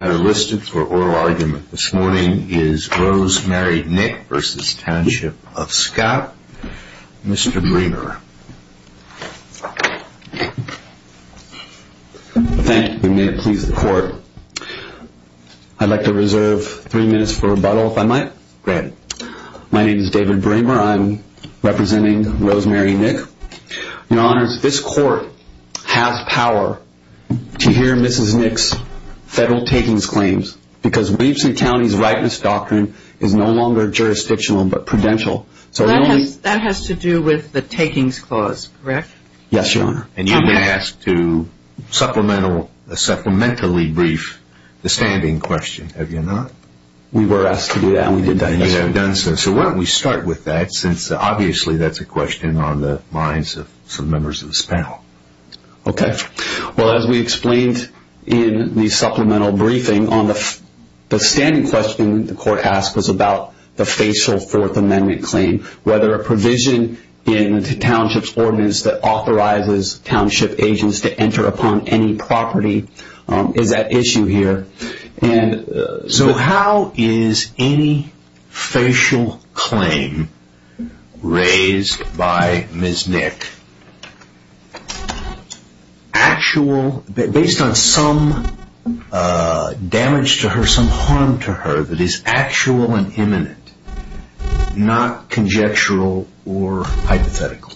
I listed for oral argument this morning is Rosemary Nick v. Township of Scott. Mr. Bremer. Thank you. May it please the court. I'd like to reserve three minutes for rebuttal if I might. Granted. My name is David Bremer. I'm representing Rosemary Nick. Your honors, this court has power to hear Mrs. Nick's federal takings claims because Williamson County's rightness doctrine is no longer jurisdictional but prudential. So that has to do with the takings clause, correct? Yes, your honor. And you've been asked to supplementally brief the standing question, have you not? We were asked to do that. So why don't we start with that since obviously that's a question on the minds of some members of this panel. Okay. Well, as we explained in the supplemental briefing on the standing question the court asked was about the facial fourth amendment claim, whether a provision in the township's ordinance that authorizes township agents to by Ms. Nick. Actual, based on some damage to her, some harm to her that is actual and imminent, not conjectural or hypothetical.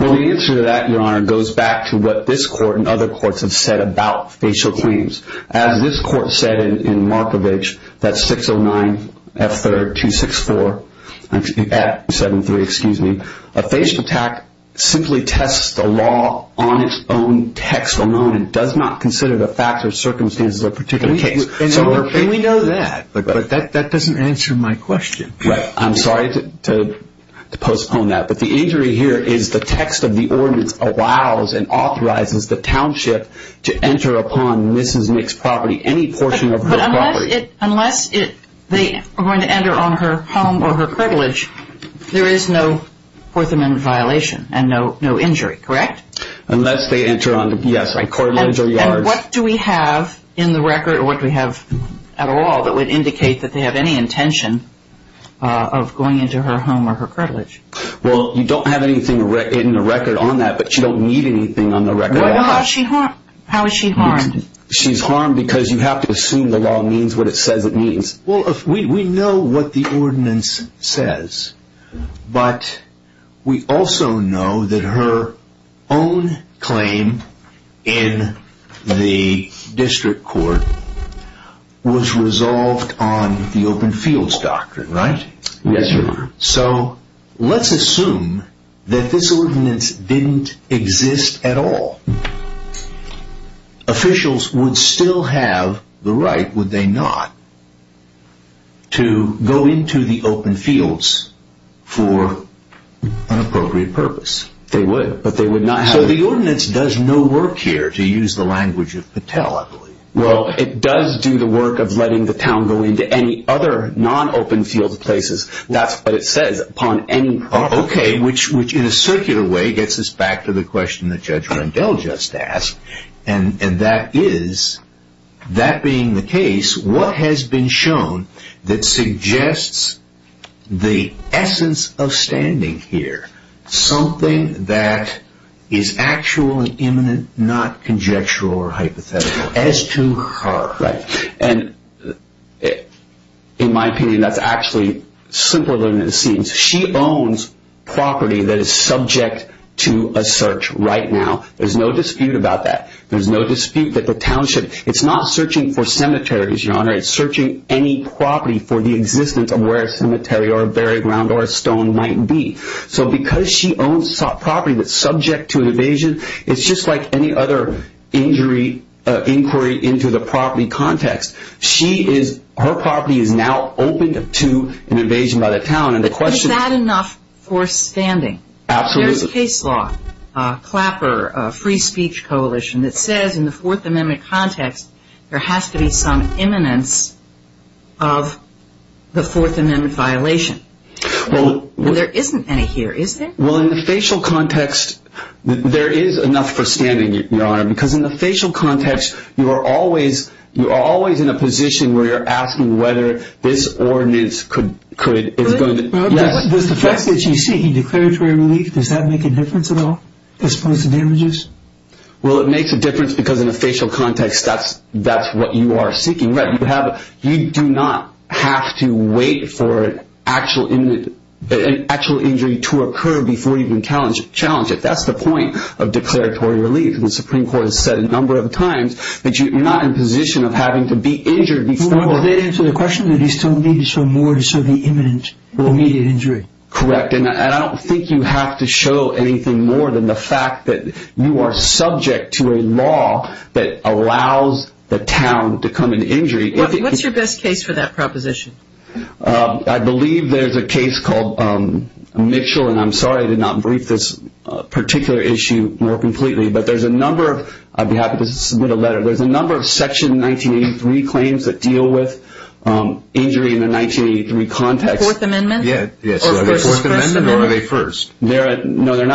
Well, the answer to that, your honor, goes back to what this court and other courts have said about facial claims. As this court said in Markovich that 609 F3 264 F73, excuse me, a facial attack simply tests the law on its own text alone and does not consider the facts or circumstances of a particular case. And we know that, but that doesn't answer my question. I'm sorry to postpone that, but the injury here is the text of the ordinance allows and authorizes the township to enter upon Mrs. Nick's property, any portion of her property. Unless they are going to enter on her home or her cartilage, there is no fourth amendment violation and no injury, correct? Unless they enter on, yes, cartilage or yards. And what do we have in the record or what do we have at all that would indicate that they have any intention of going into her home or her cartilage? Well, you don't have anything in the record on that, but you don't need anything on the record at all. How is she harmed? She's harmed because you have to assume the law means what it says it means. Well, if we know what the ordinance says, but we also know that her own claim in the district court was resolved on the open fields doctrine, right? Yes, sir. So let's assume that this ordinance didn't exist at all. Officials would still have the right, would they not, to go into the open fields for an appropriate purpose? They would, but they would not. So the ordinance does no work here, to use the language of Patel, I believe. Well, it does do the work of letting the town go into any other non-open field places. That's what it says, upon any property. Okay, which in a circular way gets us back to the question that Judge Rendell just asked, and that is, that being the case, what has been shown that suggests the essence of standing here? Something that is actual and imminent, not conjectural or hypothetical, as to her. Right, and in my opinion, that's actually simpler than it seems. She owns property that is subject to a search right now. There's no dispute about that. There's no dispute that the township, it's not searching for cemeteries, your honor. It's searching any property for the existence of where a cemetery or a buried ground or a stone might be. So because she owns property that's subject to an evasion, it's just like any injury inquiry into the property context. Her property is now open to an evasion by the town. But is that enough for standing? Absolutely. There's case law, Clapper, a free speech coalition that says in the Fourth Amendment context, there has to be some imminence of the Fourth Amendment violation. Well, there isn't any here, is there? Well, in the facial context, there is enough for standing, your honor, because in the facial context, you are always in a position where you're asking whether this ordinance could... Really? Does the fact that she's seeking declaratory relief, does that make a difference at all as opposed to damages? Well, it makes a difference because in a facial context, that's what you are seeking. You do not have to wait for an actual injury to occur before you even challenge it. That's the point of declaratory relief. The Supreme Court has said a number of times that you're not in a position of having to be injured before... Does that answer the question that you still need to show more to show the imminent or immediate injury? Correct. And I don't think you have to show anything more than the fact that you are subject to a law that allows the town to come into injury. What's your best case for that proposition? I believe there's a case called Mitchell, and I'm sorry I did not brief this particular issue more completely, but there's a number of... I'd be happy to submit a letter. There's a number of Section 1983 claims that deal with injury in the 1983 context. Fourth Amendment? Yes. Are they Fourth Amendment or are they First? No, they're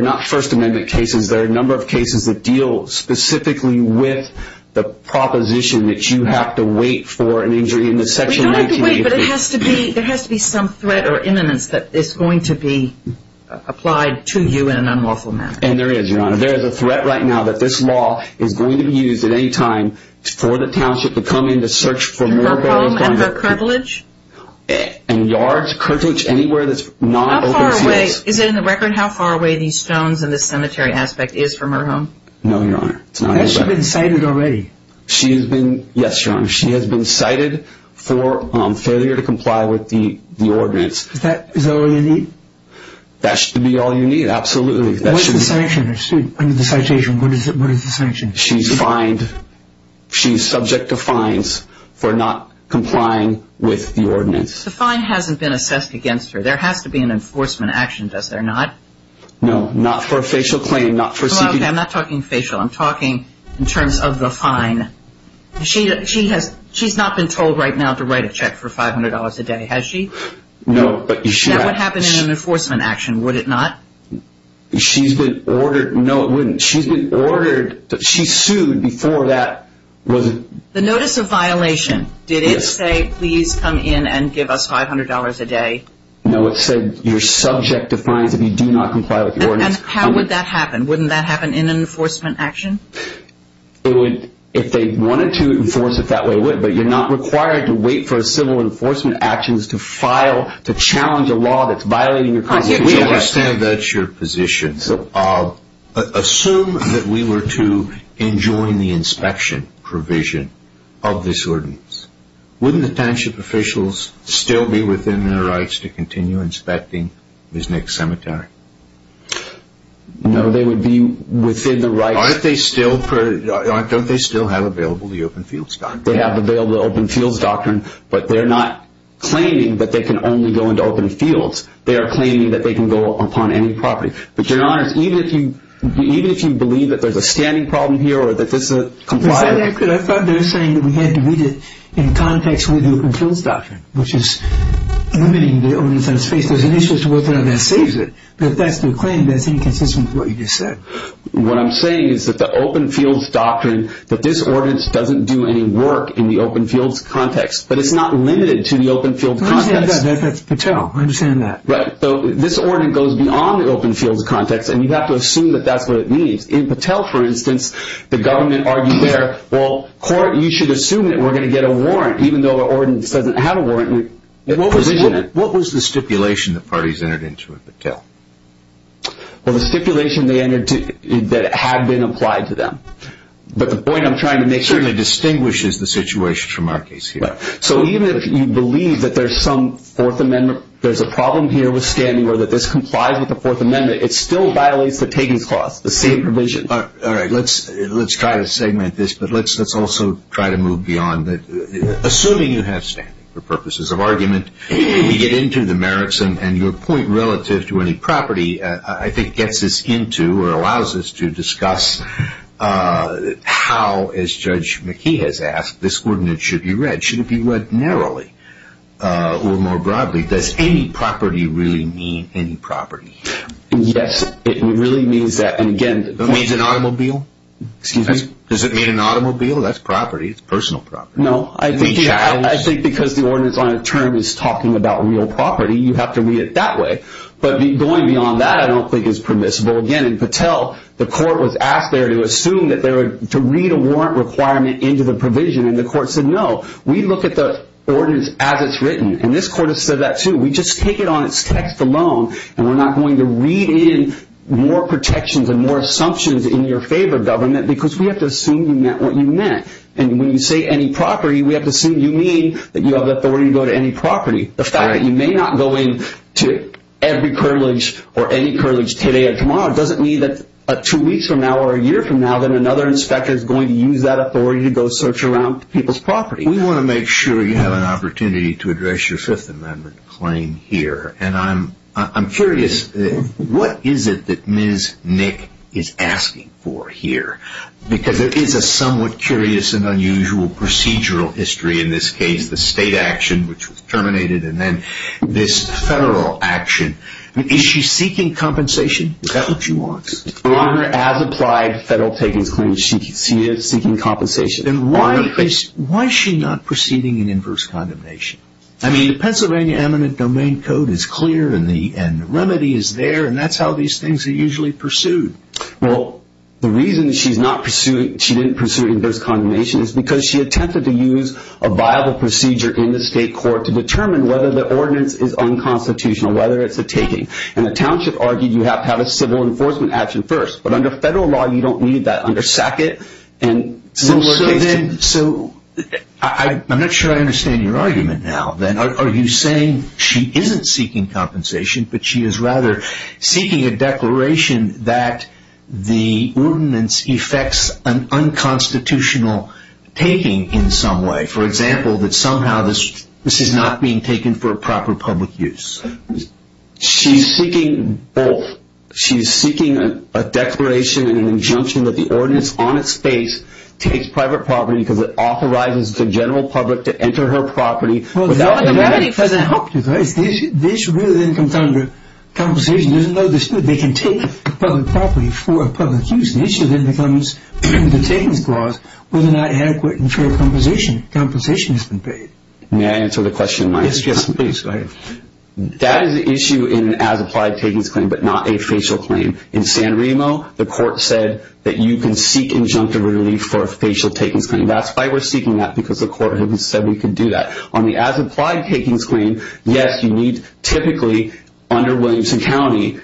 not First Amendment cases. There are a number of cases that deal specifically with the proposition that you have to wait for an injury in the Section 1983. You don't have to wait, but there has to be some threat or imminence that is going to be in an unlawful manner. And there is, Your Honor. There is a threat right now that this law is going to be used at any time for the township to come in to search for more... Her home and her curvilage? And yards, curvilage, anywhere that's not open to us. How far away? Is it in the record how far away these stones and this cemetery aspect is from her home? No, Your Honor. It's not anywhere. Has she been cited already? She has been... Yes, Your Honor. She has been cited for failure to comply with the sanctions. Under the citation, what is the sanction? She's fined. She's subject to fines for not complying with the ordinance. The fine hasn't been assessed against her. There has to be an enforcement action, does there not? No, not for a facial claim, not for... Okay, I'm not talking facial. I'm talking in terms of the fine. She's not been told right now to write a check for $500 a day, has she? No, but she... That would happen in an enforcement action, would it not? She's been ordered... No, it wouldn't. She's been ordered... She sued before that... The notice of violation, did it say, please come in and give us $500 a day? No, it said you're subject to fines if you do not comply with the ordinance. And how would that happen? Wouldn't that happen in an enforcement action? It would if they wanted to enforce it that way, it would, you're not required to wait for civil enforcement actions to file, to challenge a law that's violating your constitution. I understand that's your position. Assume that we were to enjoin the inspection provision of this ordinance, wouldn't the township officials still be within their rights to continue inspecting this next cemetery? No, they would be within the rights... Aren't they still... Don't they still have available the Open Fields Doctrine? They have available the Open Fields Doctrine, but they're not claiming that they can only go into open fields. They are claiming that they can go upon any property. But your Honor, even if you believe that there's a standing problem here or that this is compliant... I thought they were saying that we had to read it in context with the Open Fields Doctrine, which is limiting the ordinance on its face. There's an issue as to whether or not that saves it, but if that's their claim, that's inconsistent with what you just said. What I'm saying is that the Open Fields Doctrine, that this ordinance doesn't do any work in the open fields context, but it's not limited to the open field context. That's Patel, I understand that. Right, so this ordinance goes beyond the open fields context and you have to assume that that's what it means. In Patel, for instance, the government argued there, well, court, you should assume that we're going to get a warrant, even though the ordinance doesn't have a warrant. What was the stipulation that parties entered into in Patel? Well, the stipulation that had been applied to them. But the point I'm trying to make... Certainly distinguishes the situation from our case here. So even if you believe that there's some Fourth Amendment, there's a problem here with standing or that this complies with the Fourth Amendment, it still violates the Taggings Clause, the same provision. All right, let's try to segment this, but let's also try to move beyond that. Assuming you have standing for purposes of argument, we get into the merits and your point relative to property, I think gets us into or allows us to discuss how, as Judge McKee has asked, this ordinance should be read. Should it be read narrowly or more broadly? Does any property really mean any property? Yes, it really means that. And again... It means an automobile? Excuse me? Does it mean an automobile? That's property, it's personal property. No, I think because the ordinance on a term is talking about real property, it's permissible. But going beyond that, I don't think it's permissible. Again, in Patel, the court was asked there to assume that they were to read a warrant requirement into the provision and the court said, no, we look at the ordinance as it's written. And this court has said that too. We just take it on its text alone and we're not going to read in more protections and more assumptions in your favor, government, because we have to assume you meant what you meant. And when you say any property, we have to assume you mean that you may not go into every curtilage or any curtilage today or tomorrow. It doesn't mean that two weeks from now or a year from now, then another inspector is going to use that authority to go search around people's property. We want to make sure you have an opportunity to address your Fifth Amendment claim here. And I'm curious, what is it that Ms. Nick is asking for here? Because there is a somewhat curious and unusual procedural history in this federal action. Is she seeking compensation? Is that what she wants? On her as-applied federal takings claim, she is seeking compensation. Then why is she not proceeding in inverse condemnation? I mean, the Pennsylvania Amendment Domain Code is clear and the remedy is there and that's how these things are usually pursued. Well, the reason she didn't pursue inverse condemnation is because she attempted to use a viable procedure in the state court to determine whether the ordinance is unconstitutional, whether it's a taking. And the township argued you have to have a civil enforcement action first. But under federal law, you don't need that under Sackett and similar cases. So I'm not sure I understand your argument now. Are you saying she isn't seeking compensation, but she is rather seeking a declaration that the ordinance effects an unconstitutional taking in some way? For example, that somehow this is not being taken for a proper public use? She's seeking both. She's seeking a declaration and an injunction that the ordinance on its face takes private property because it authorizes the general public to enter her property. This really then comes under compensation. There's no dispute. They can take a public property for a public use. The issue then becomes the takings clause, whether or not adequate and fair compensation has been paid. May I answer the question? Yes, please. That is the issue in an as-applied takings claim, but not a facial claim. In San Remo, the court said that you can seek injunctive relief for a facial takings claim. That's why we're seeking that because the court said we could do that. On the as-applied takings claim, yes, you need typically under Williamson County,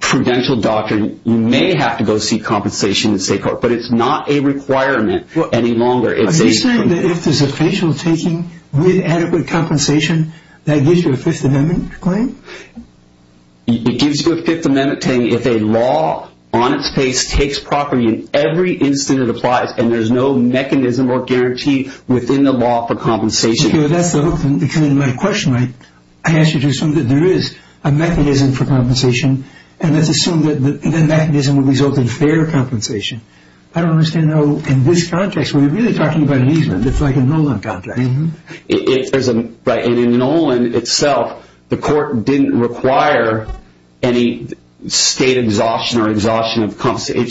prudential doctrine, you may have to go seek compensation in the state court, but it's not a requirement any longer. Are you saying that if there's a facial taking with adequate compensation, that gives you a Fifth Amendment claim? It gives you a Fifth Amendment claim if a law on its face takes property in every instance it applies and there's no mechanism or guarantee within the law for compensation. That's the hook. In my question, I asked you to assume that there is a mechanism for compensation and let's assume that the mechanism will result in fair compensation. I don't understand how in this context, we're really talking about an easement. It's like a Nolan contract. In Nolan itself, the court didn't require any state exhaustion or exhaustion of compensation. It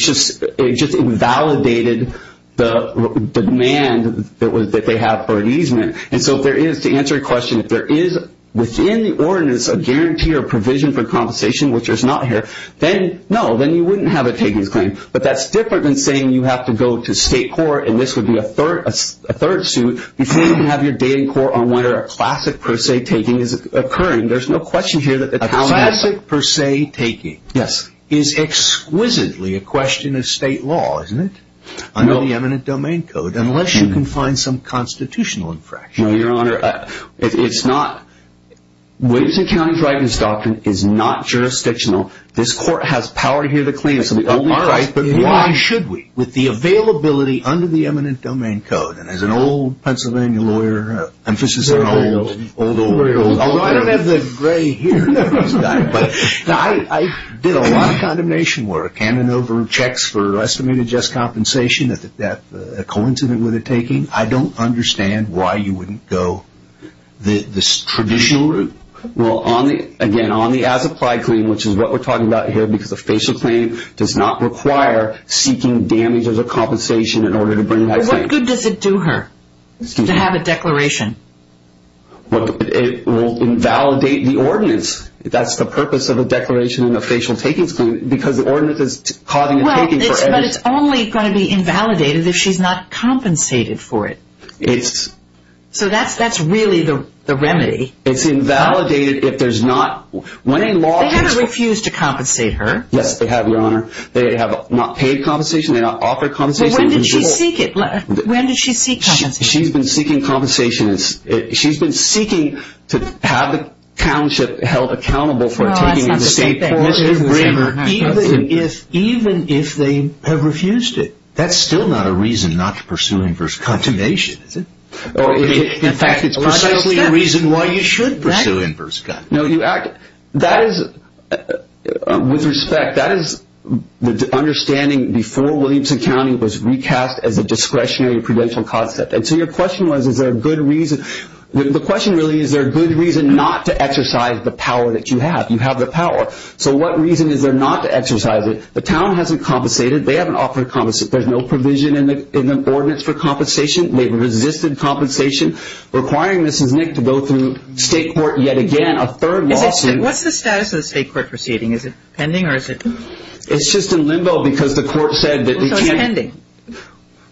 just invalidated the demand that they have for an easement. To answer your question, if there is within the ordinance a guarantee or provision for compensation, which is not here, then no, then you wouldn't have a takings claim, but that's different than saying you have to go to state court and this would be a third suit before you can have your date in court on whether a classic per se taking is occurring. There's no question here that- A classic per se taking is exquisitely a question of state law, isn't it? Under the eminent domain code, unless you can find some constitutional infraction. No, your honor, it's not. Williamson County's right to this doctrine is not jurisdictional. This court has power here to claim some of our rights, but why should we? With the availability under the eminent domain code and as an old Pennsylvania lawyer, emphasis on old, old, old. I don't have the gray hair. I did a lot of condemnation work, hand in over checks for estimated just compensation that a coincident would have taken. I don't understand why you wouldn't go the traditional route. Well, again, on the as-applied claim, which is what we're talking about here because a facial claim does not require seeking damages or compensation in order to bring- What good does it do her to have a declaration? It will invalidate the ordinance. That's the purpose of a declaration and a facial taking because the ordinance is causing a taking for- But it's only going to be invalidated if she's not compensated for it. So that's really the remedy. It's invalidated if there's not- They haven't refused to compensate her. Yes, they have, your honor. They have not paid compensation. They don't offer compensation. When did she seek it? When did she seek compensation? She's been seeking compensation. She's been seeking to have the township held accountable for taking a state- No, that's not the same thing. Mr. Kramer, even if they have refused it- That's still not a reason not to pursue inverse condemnation, is it? In fact, it's precisely a reason why you should then- Pursue inverse condemnation. No, you act... With respect, that is the understanding before Williamson County was recast as a discretionary prudential concept. And so your question was, is there a good reason? The question really is, is there a good reason not to exercise the power that you have? You have the power. So what reason is there not to exercise it? The town hasn't compensated. They haven't offered compensation. There's no provision in the ordinance for compensation. They've resisted compensation requiring Mrs. Nick to go through state court yet again, a third lawsuit- What's the status of the state court proceeding? Is it pending or is it- It's just in limbo because the court said that- So it's pending.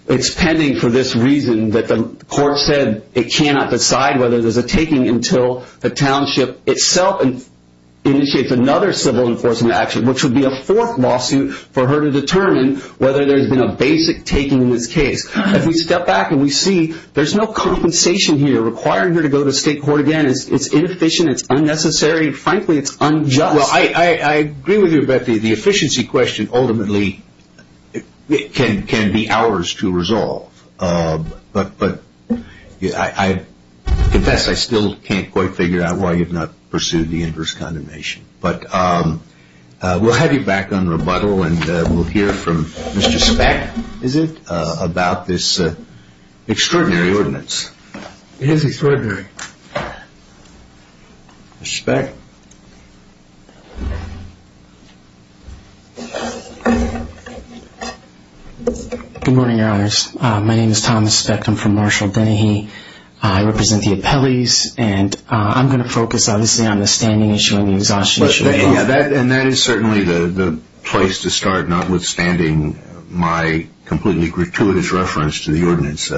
It's pending for this reason that the court said it cannot decide whether there's a taking until the township itself initiates another civil enforcement action, which would be a fourth lawsuit for her to determine whether there's been a basic taking in this case. As we step back and we see, there's no compensation here requiring her to go to state court again. It's inefficient. It's unnecessary. Frankly, it's unjust. Well, I agree with you about the efficiency question. Ultimately, it can be ours to resolve, but I confess I still can't quite figure out why you've not pursued the inverse condemnation. But we'll have you back on rebuttal and we'll hear from Mr. Speck, is it, about this extraordinary ordinance. Yes, it's extraordinary. Mr. Speck? Good morning, your honors. My name is Thomas Speck. I'm from Marshall-Bennehe. I represent the appellees and I'm going to focus, obviously, on the standing issue and the exhaustion issue. And that is certainly the place to start, notwithstanding my completely gratuitous reference to the ordinance.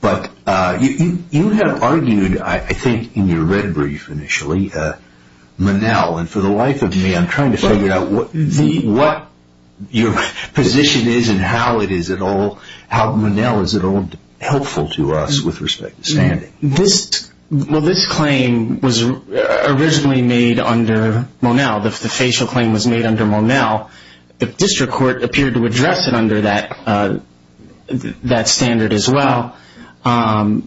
But you have argued, I think, in your red brief initially, Monell. And for the life of me, I'm trying to figure out what your position is and how it is at all, how Monell is at all helpful to us with respect to standing. Well, this claim was originally made under Monell. The facial claim was made under Monell. The district court appeared to address it under that standard as well and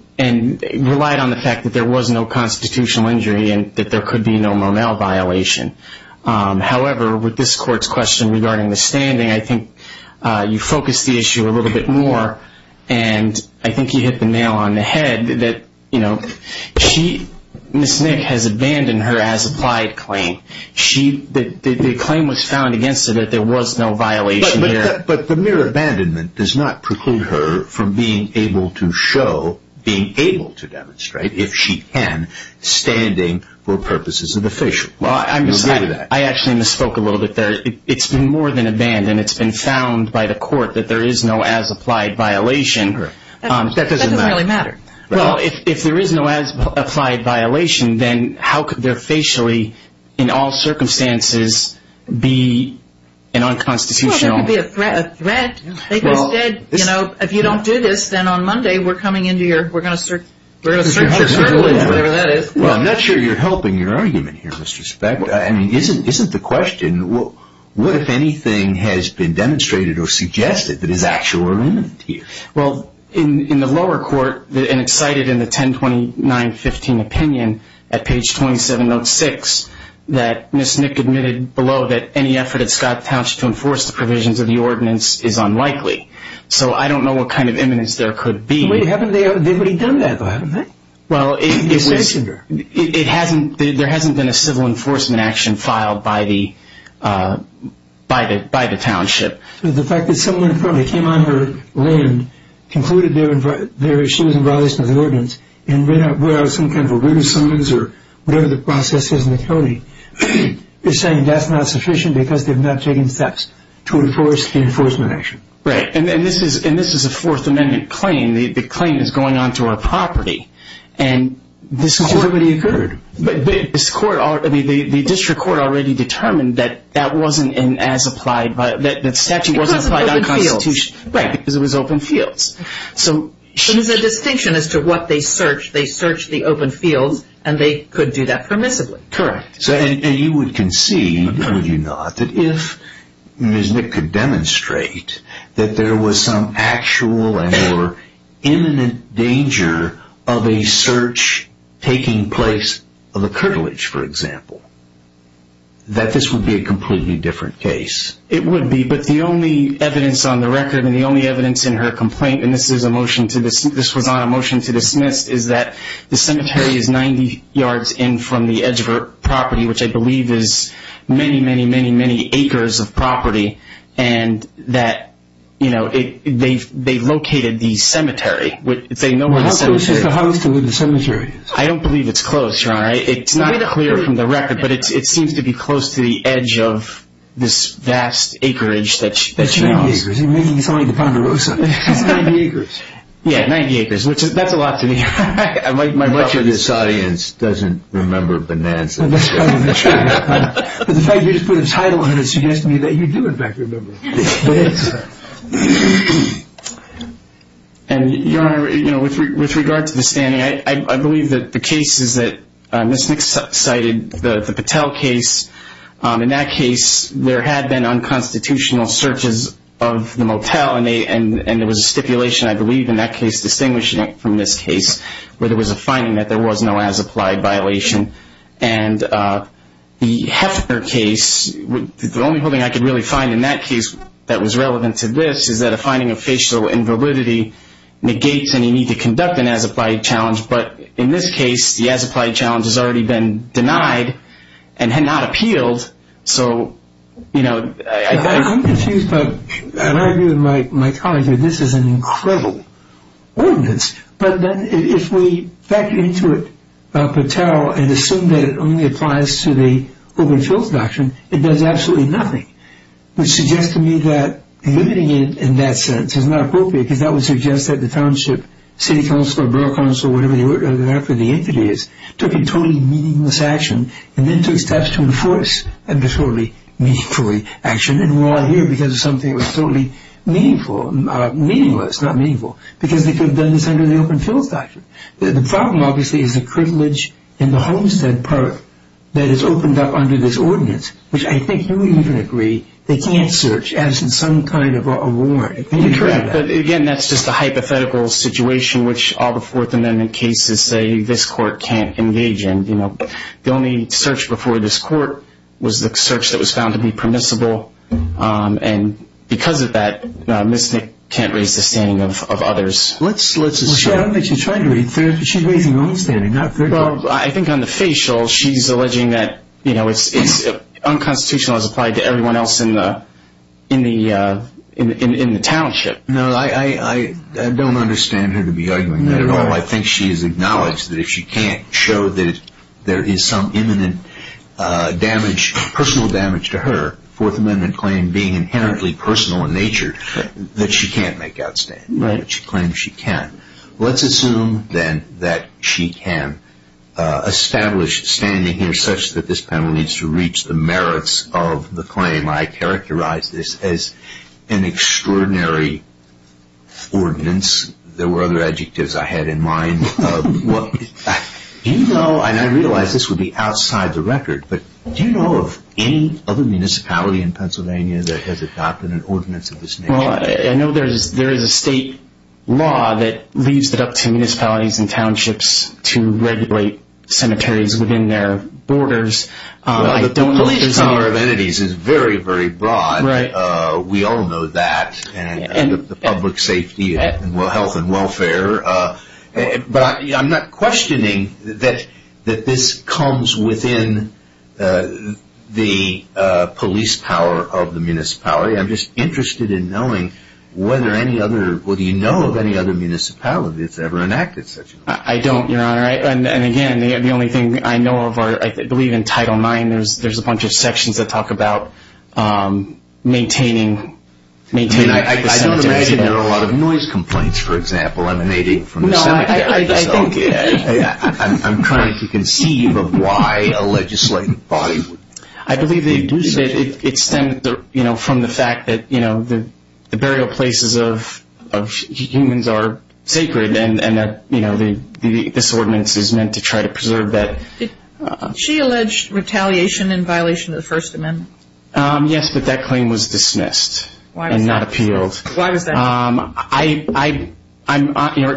relied on the fact that there was no constitutional injury and that there could be no Monell violation. However, with this court's question regarding the standing, I think you focused the issue a little bit more and I think you hit the nail on the head that Ms. Nick has abandoned her as-applied claim. The claim was found against her that there was no violation here. But the mere abandonment does not preclude her from being able to show, being able to demonstrate, if she can, standing for purposes of the facial. I actually misspoke a little bit there. It's been more than abandoned. It's been found by the court that there is no as-applied violation. That doesn't really matter. Well, if there is no as-applied violation, then how could there facially, in all circumstances, be an unconstitutional? Well, there could be a threat. They could have said, you know, if you don't do this, then on Monday we're coming into your, we're going to search your circle, whatever that is. Well, I'm not sure you're helping your argument here, Mr. Speck. I mean, isn't the question, what if anything has been demonstrated or suggested that is actually limited to you? Well, in the lower court, and it's cited in the 1029-15 opinion at page 27, note 6, that Ms. Nick admitted below that any effort at Scott Township to enforce the provisions of the ordinance is unlikely. So I don't know what kind of imminence there could be. Wait, haven't they already done that, though, haven't they? Well, it was, it hasn't, there hasn't been a civil enforcement action filed by the township. The fact that someone probably came on her land, concluded that she was in violation of the ordinance, and read out some kind of a written summons, or whatever the process is in the county, is saying that's not sufficient because they've not taken steps to enforce the enforcement action. Right, and this is a Fourth Amendment claim. The claim is going on to our property. And this court, I mean, the district court already determined that that wasn't as applied, that statute wasn't applied under the Constitution. Right, because it was open fields. So there's a distinction as to what they searched. They searched the open fields, and they could do that permissibly. Correct. And you would concede, would you not, that if Ms. Nick could demonstrate that there was some actual and or imminent danger of a search taking place of a cartilage, for example, that this would be a completely different case. It would be, but the only evidence on the record, and the only evidence in her complaint, and this was on a motion to dismiss, is that the cemetery is 90 yards in from the edge of her property, which I believe is many, many, many, many acres of property. And that, you know, they've located the cemetery. How close is the house to where the cemetery is? I don't believe it's close, Your Honor. It's not clear from the record, but it seems to be close to the edge of this vast acreage that she owns. It's 90 acres. You're making it sound like the Ponderosa. It's 90 acres. Yeah, 90 acres, which that's a lot to me. Much of this audience doesn't remember Bonanza. That's probably true. But the fact you just put a title on it suggests to me that you do, in fact, remember. And, Your Honor, you know, with regard to the standing, I believe that the case is that cited the Patel case. In that case, there had been unconstitutional searches of the motel, and there was a stipulation, I believe, in that case distinguishing it from this case, where there was a finding that there was no as-applied violation. And the Heffner case, the only holding I could really find in that case that was relevant to this is that a finding of facial invalidity negates any need to conduct an as-applied challenge. But in this case, the as-applied challenge has already been denied and had not appealed. So, you know, I'm confused. But I'd argue with my colleague that this is an incredible ordinance. But if we factor into it Patel and assume that it only applies to the open fields doctrine, it does absolutely nothing. Which suggests to me that limiting it in that sense is not appropriate, because that would suggest that the township, city council, borough council, whatever the entity is, took a totally meaningless action, and then took steps to enforce a totally meaningful action. And we're all here because of something that was totally meaningful. Meaningless, not meaningful. Because they could have done this under the open fields doctrine. The problem, obviously, is the privilege in the homestead part that is opened up under this ordinance, which I think you would even agree they can't search as in some kind of a warrant. You're correct. But again, that's just a hypothetical situation which all the Fourth Amendment cases say this court can't engage in. The only search before this court was the search that was found to be permissible. And because of that, Ms. Nick can't raise the standing of others. Well, I don't think she's trying to raise... She's raising her own standing, not their own. Well, I think on the facial, she's alleging that it's unconstitutional as applied to everyone else in the township. No, I don't understand her to be arguing that at all. I think she has acknowledged that if she can't show that there is some imminent damage, personal damage to her, Fourth Amendment claim being inherently personal in nature, that she can't make outstanding. Right. She claims she can. Let's assume, then, that she can establish standing here such that this panel needs to reach the merits of the claim. I characterize this as an extraordinary ordinance. There were other adjectives I had in mind. Do you know, and I realize this would be outside the record, but do you know of any other municipality in Pennsylvania that has adopted an ordinance of this nature? Well, I know there is a state law that leads it up to municipalities and townships to regulate cemeteries within their borders. Well, the police power of entities is very, very broad. Right. We all know that and the public safety and health and welfare. But I'm not questioning that this comes within the police power of the municipality. I'm just interested in knowing whether any other, well, do you know of any other municipality that's ever enacted such an ordinance? I don't, Your Honor. And again, the only thing I know of, I believe in Title IX, there's a bunch of sections that talk about maintaining the cemeteries. And I don't imagine there are a lot of noise complaints, for example, emanating from the cemeteries. No, I think. Okay. I'm trying to conceive of why a legislative body would do such a thing. I believe it stems from the fact that the burial places of humans are sacred and this ordinance is meant to try to preserve that. She alleged retaliation in violation of the First Amendment. Yes, but that claim was dismissed and not appealed. Why was that?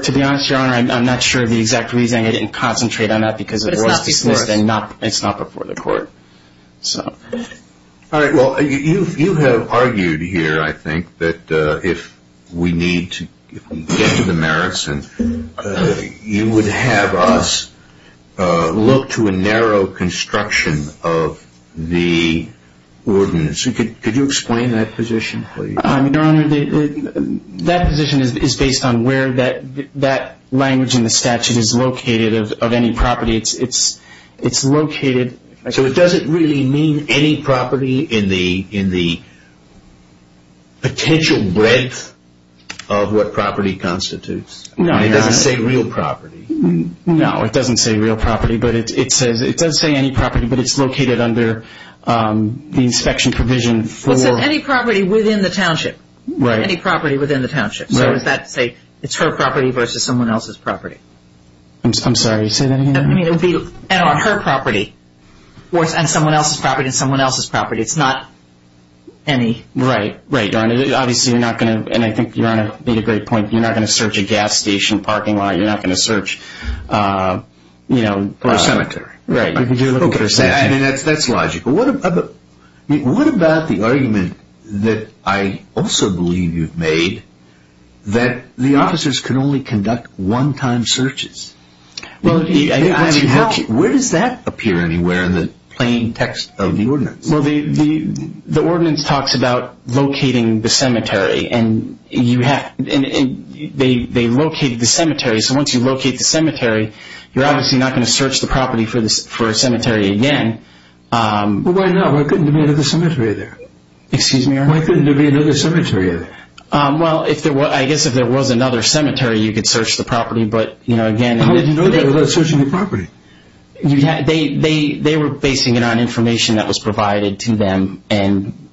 To be honest, Your Honor, I'm not sure the exact reason. I didn't concentrate on that because it was dismissed and it's not before the court. All right. You have argued here, I think, that if we need to get to the merits, you would have us look to a narrow construction of the ordinance. Could you explain that position, please? I mean, Your Honor, that position is based on where that language in the statute is located, of any property it's located. So it doesn't really mean any property in the potential breadth of what property constitutes? No, Your Honor. It doesn't say real property? No, it doesn't say real property, but it does say any property, but it's located under the inspection provision for... It says any property within the township. Right. Any property within the township. Right. So is that to say it's her property versus someone else's property? I'm sorry, say that again? And on her property versus on someone else's property and someone else's property. It's not any... Right. Right, Your Honor. Obviously, you're not going to... And I think Your Honor made a great point. You're not going to search a gas station parking lot. You're not going to search, you know... Or a cemetery. Right. You can do a little bit of searching. I mean, that's logical. What about the argument that I also believe you've made that the officers can only conduct one-time searches? Well, once you have... Where does that appear anywhere in the plain text of the ordinance? Well, the ordinance talks about locating the cemetery. And you have... They locate the cemetery. So once you locate the cemetery, you're obviously not going to search the property for a cemetery again. Well, why not? Why couldn't there be another cemetery there? Excuse me, Your Honor? Why couldn't there be another cemetery there? Well, I guess if there was another cemetery, you could search the property. But, you know, again... How would you know that without searching the property? They were basing it on information that was provided to them. And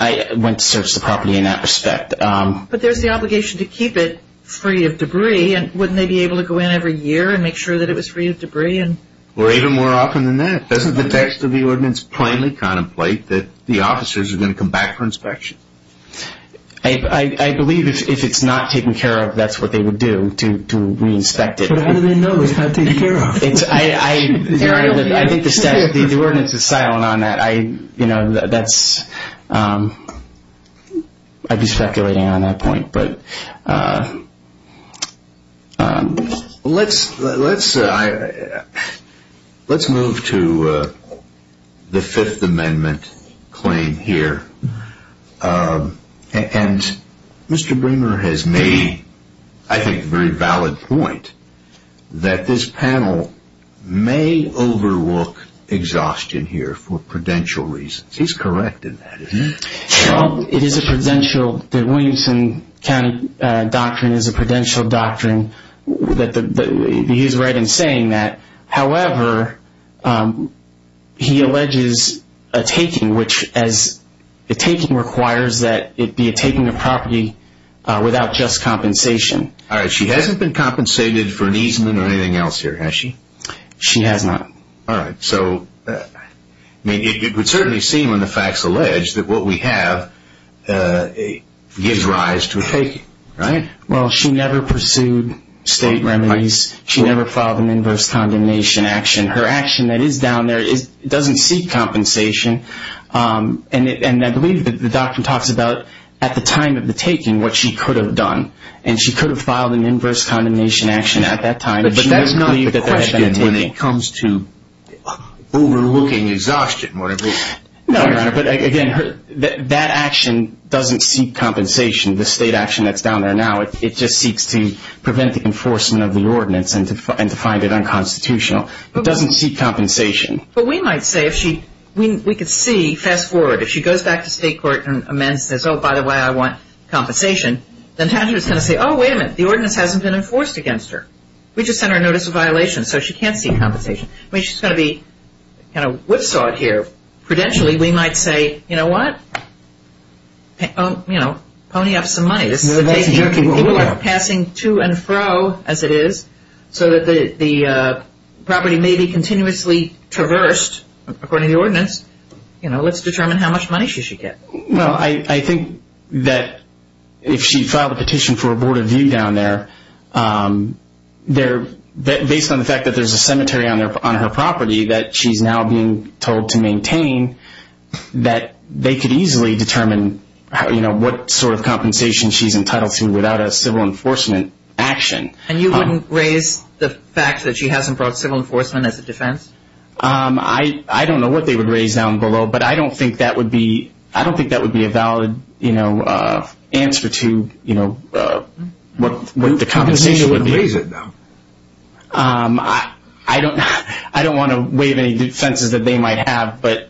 I went to search the property in that respect. But there's the obligation to keep it free of debris. And wouldn't they be able to go in every year and make sure that it was free of debris? Or even more often than that. Doesn't the text of the ordinance plainly contemplate that the officers are going to come back for inspection? I believe if it's not taken care of, that's what they would do to re-inspect it. But how do they know it's not taken care of? I think the ordinance is silent on that. I, you know, that's... I'd be speculating on that point, but... Let's move to the Fifth Amendment claim here. And Mr. Bremer has made, I think, a very valid point. That this panel may overlook exhaustion here for prudential reasons. He's correct in that. It is a prudential... The Williamson County Doctrine is a prudential doctrine. He's right in saying that. However, he alleges a taking, which as a taking requires that it be a taking of property without just compensation. All right. She hasn't been compensated for an easement or anything else here, has she? She has not. All right. So, I mean, it would certainly seem when the facts allege that what we have gives rise to a taking, right? Well, she never pursued state remedies. She never filed an inverse condemnation action. Her action that is down there doesn't seek compensation. And I believe the doctrine talks about at the time of the taking what she could have done. And she could have filed an inverse condemnation action at that time. But that's not the question when it comes to overlooking exhaustion, whatever it is. No, Your Honor. But again, that action doesn't seek compensation. The state action that's down there now, it just seeks to prevent the enforcement of the ordinance and to find it unconstitutional. It doesn't seek compensation. But we might say if she, we could see, fast forward, if she goes back to state court and amends and says, oh, by the way, I want compensation, then the attorney is going to say, oh, wait a minute, the ordinance hasn't been enforced against her. We just sent her a notice of violation. So she can't seek compensation. I mean, she's going to be kind of whipsawed here. Prudentially, we might say, you know what? You know, pony up some money. People are passing to and fro, as it is, so that the property may be continuously traversed, according to the ordinance. You know, let's determine how much money she should get. Well, I think that if she filed a petition for a board of view down there, based on the fact that there's a cemetery on her property that she's now being told to maintain, that they could easily determine, you know, what sort of compensation she's entitled to without a civil enforcement action. And you wouldn't raise the fact that she hasn't brought civil enforcement as a defense? I don't know what they would raise down below. But I don't think that would be, I don't think that would be a valid, you know, answer to, you know, what the compensation would be. You wouldn't raise it, though. I don't, I don't want to waive any defenses that they might have. But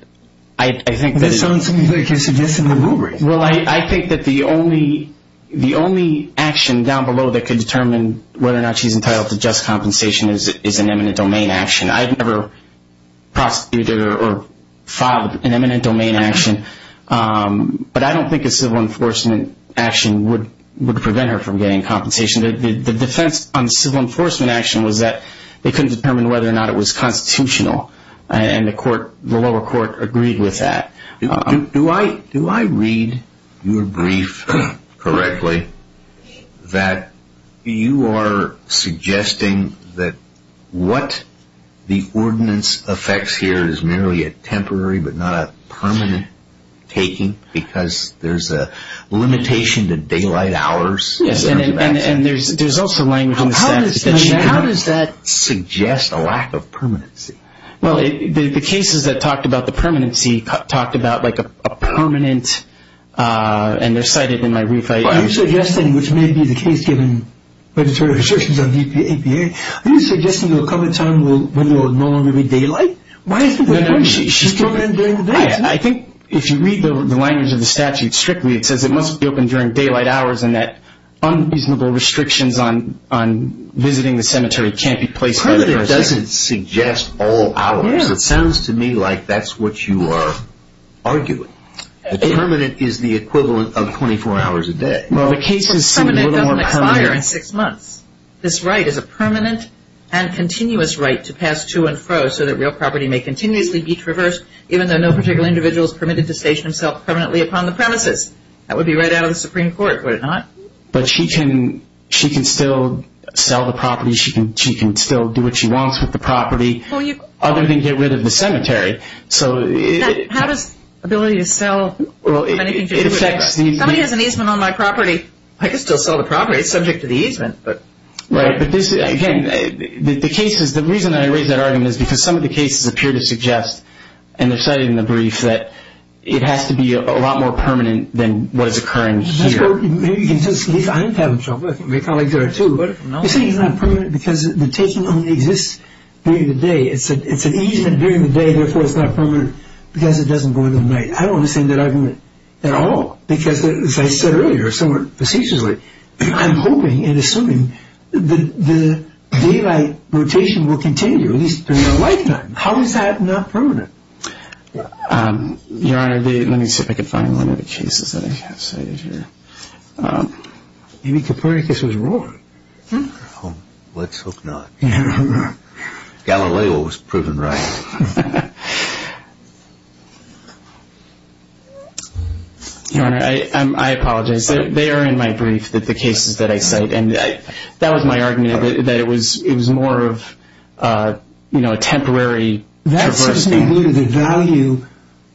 I think that... That sounds like you're suggesting the rubric. Well, I think that the only, the only action down below that could determine whether or not she's entitled to just compensation is an eminent domain action. I've never prosecuted or filed an eminent domain action. But I don't think a civil enforcement action would prevent her from getting compensation. The defense on civil enforcement action was that they couldn't determine whether or not it was constitutional. And the court, the lower court agreed with that. Do I, do I read your brief correctly that you are suggesting that what the ordinance affects here is merely a temporary but not a permanent taking? Because there's a limitation to daylight hours. Yes, and there's also language in the statute. How does that suggest a lack of permanency? Well, the cases that talked about the permanency talked about like a permanent... And they're cited in my brief. But are you suggesting, which may be the case given legislative assertions on the EPA, are you suggesting there will come a time when there will no longer be daylight? Why is it that she can't come in during the day? I think if you read the language of the statute strictly, it says it must be open during daylight hours. And that unreasonable restrictions on visiting the cemetery can't be placed. Permanent doesn't suggest all hours. It sounds to me like that's what you are arguing. Permanent is the equivalent of 24 hours a day. Well, the cases seem a little more permanent. Permanent doesn't expire in six months. This right is a permanent and continuous right to pass to and fro so that real property may continuously be traversed even though no particular individual is permitted to station himself permanently upon the premises. That would be right out of the Supreme Court, would it not? But she can, she can still sell the property. She can still do what she wants with the property. Other than get rid of the cemetery. So how does ability to sell? Somebody has an easement on my property. I can still sell the property. It's subject to the easement. But again, the reason I raise that argument is because some of the cases appear to suggest, and they are cited in the brief, that it has to be a lot more permanent than what is occurring here. Maybe you can just leave. I'm having trouble. I think my colleagues are too. But you're saying it's not permanent because the taking only exists during the day. It's an easement during the day. Therefore, it's not permanent because it doesn't go in the night. I don't understand that argument at all because, as I said earlier, somewhat facetiously, I'm hoping and assuming the daylight rotation will continue at least for a lifetime. How is that not permanent? Your Honor, let me see if I can find one of the cases that I have cited here. Maybe Copernicus was wrong. Let's hope not. Galileo was proven right. Your Honor, I apologize. They are in my brief, the cases that I cite. And that was my argument, that it was more of a temporary traversal. That seems to me due to the value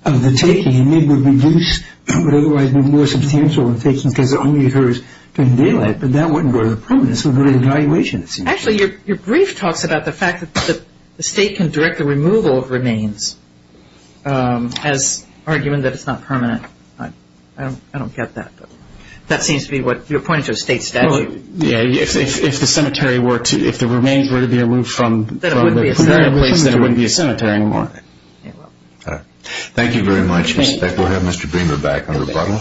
of the taking. Maybe it would reduce, but otherwise be more substantial in taking, because it only occurs during daylight. But that wasn't part of the problem. This was more of an evaluation, it seems. Actually, your brief talks about the fact that the state can direct the removal of remains as arguing that it's not permanent. I don't get that. That seems to be what you're pointing to, a state statute. Yeah, if the remains were to be removed from the place, then it wouldn't be a cemetery anymore. You're welcome. All right. Thank you very much, Ms. Beck. We'll have Mr. Bremer back on rebuttal.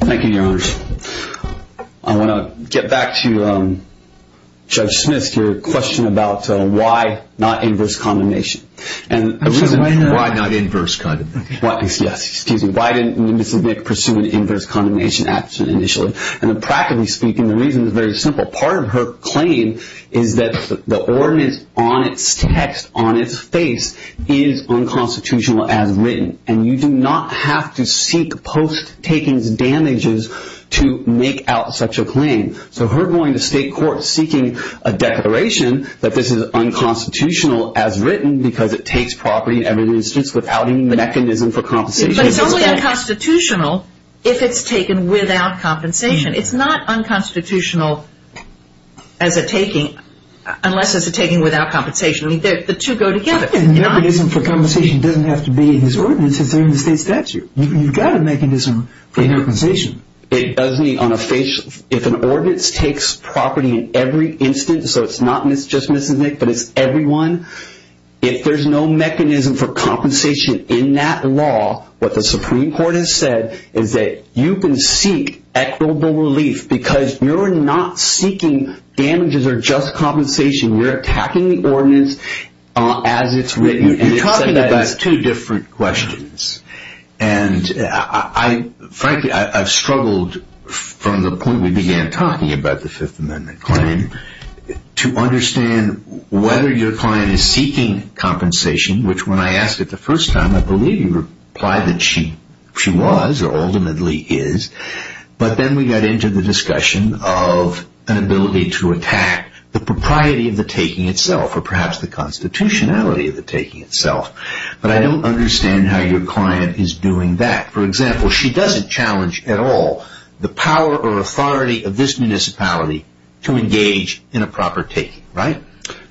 Thank you, Your Honor. I want to get back to Judge Smith's question about why not inverse condemnation. Why not inverse condemnation? Yes, excuse me. Why didn't Mrs. Beck pursue an inverse condemnation action initially? And practically speaking, the reason is very simple. Part of her claim is that the ordinance on its text, on its face, is unconstitutional as written. And you do not have to seek post takings damages to make out such a claim. So her going to state court seeking a declaration that this is unconstitutional as written, because it takes property in every instance without any mechanism for compensation. But it's only unconstitutional if it's taken without compensation. It's not unconstitutional as a taking, unless it's a taking without compensation. I mean, the two go together. And the mechanism for compensation doesn't have to be in his ordinance, it's in the state statute. You've got a mechanism for compensation. It doesn't need on a face. If an ordinance takes property in every instance, so it's not just Mrs. Nick, but it's everyone. If there's no mechanism for compensation in that law, what the Supreme Court has said is that you can seek equitable relief because you're not seeking damages or just compensation. You're attacking the ordinance as it's written. You're talking about two different questions. And frankly, I've struggled from the point we began talking about the Fifth Amendment claim to understand whether your client is seeking compensation, which when I asked it the first time, I believe you replied that she was or ultimately is. But then we got into the discussion of an ability to attack the propriety of the taking itself, or perhaps the constitutionality of the taking itself. But I don't understand how your client is doing that. For example, she doesn't challenge at all the power or authority of this municipality to engage in a proper taking, right?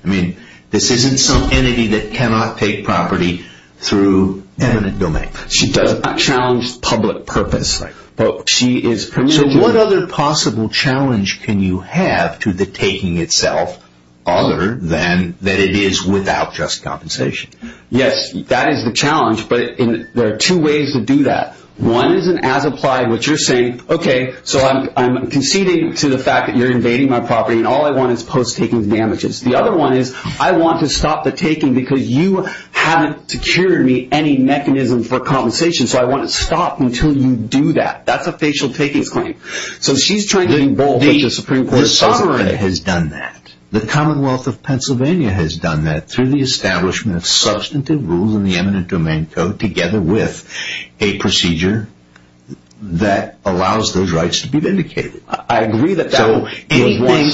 I mean, this isn't some entity that cannot take property through eminent domain. She doesn't challenge public purpose. So what other possible challenge can you have to the taking itself other than that it is without just compensation? Yes, that is the challenge. But there are two ways to do that. One is an as-applied, which you're saying, okay, so I'm conceding to the fact that you're invading my property and all I want is post-taking damages. The other one is I want to stop the taking because you haven't secured me any mechanism for compensation. So I want to stop until you do that. That's a facial takings claim. So she's trying to involve the Supreme Court sovereign has done that. The Commonwealth of Pennsylvania has done that through the establishment of substantive rules in the eminent domain code together with a procedure that allows those rights to be vindicated. I agree that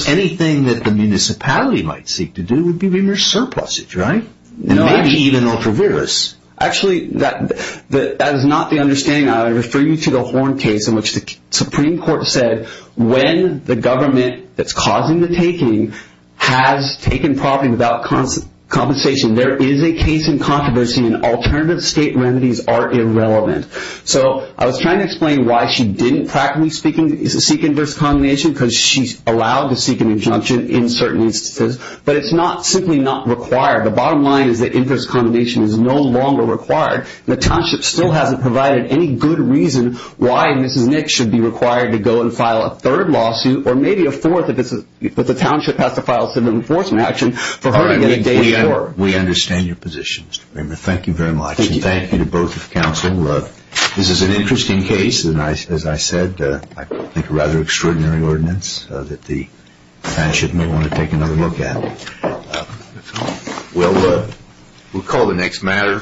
anything that the municipality might seek to do would be remorse surpluses, right? And maybe even ultra-virus. Actually, that is not the understanding. I refer you to the Horn case in which the Supreme Court said when the government that's causing the taking has taken property without compensation, there is a case in controversy and alternative state remedies are irrelevant. So I was trying to explain why she didn't, practically speaking, seek inverse condemnation because she's allowed to seek an injunction in certain instances, but it's not simply not required. The bottom line is that inverse condemnation is no longer required. The township still hasn't provided any good reason why Mrs. Nick should be required to go and file a third lawsuit or maybe a fourth if the township has to file a civil enforcement action for her to get a day's work. We understand your position, Mr. Brimmer. Thank you very much. Thank you to both of counsel. This is an interesting case and, as I said, I think a rather extraordinary ordinance that the township may want to take another look at. Well, we'll call the next matter.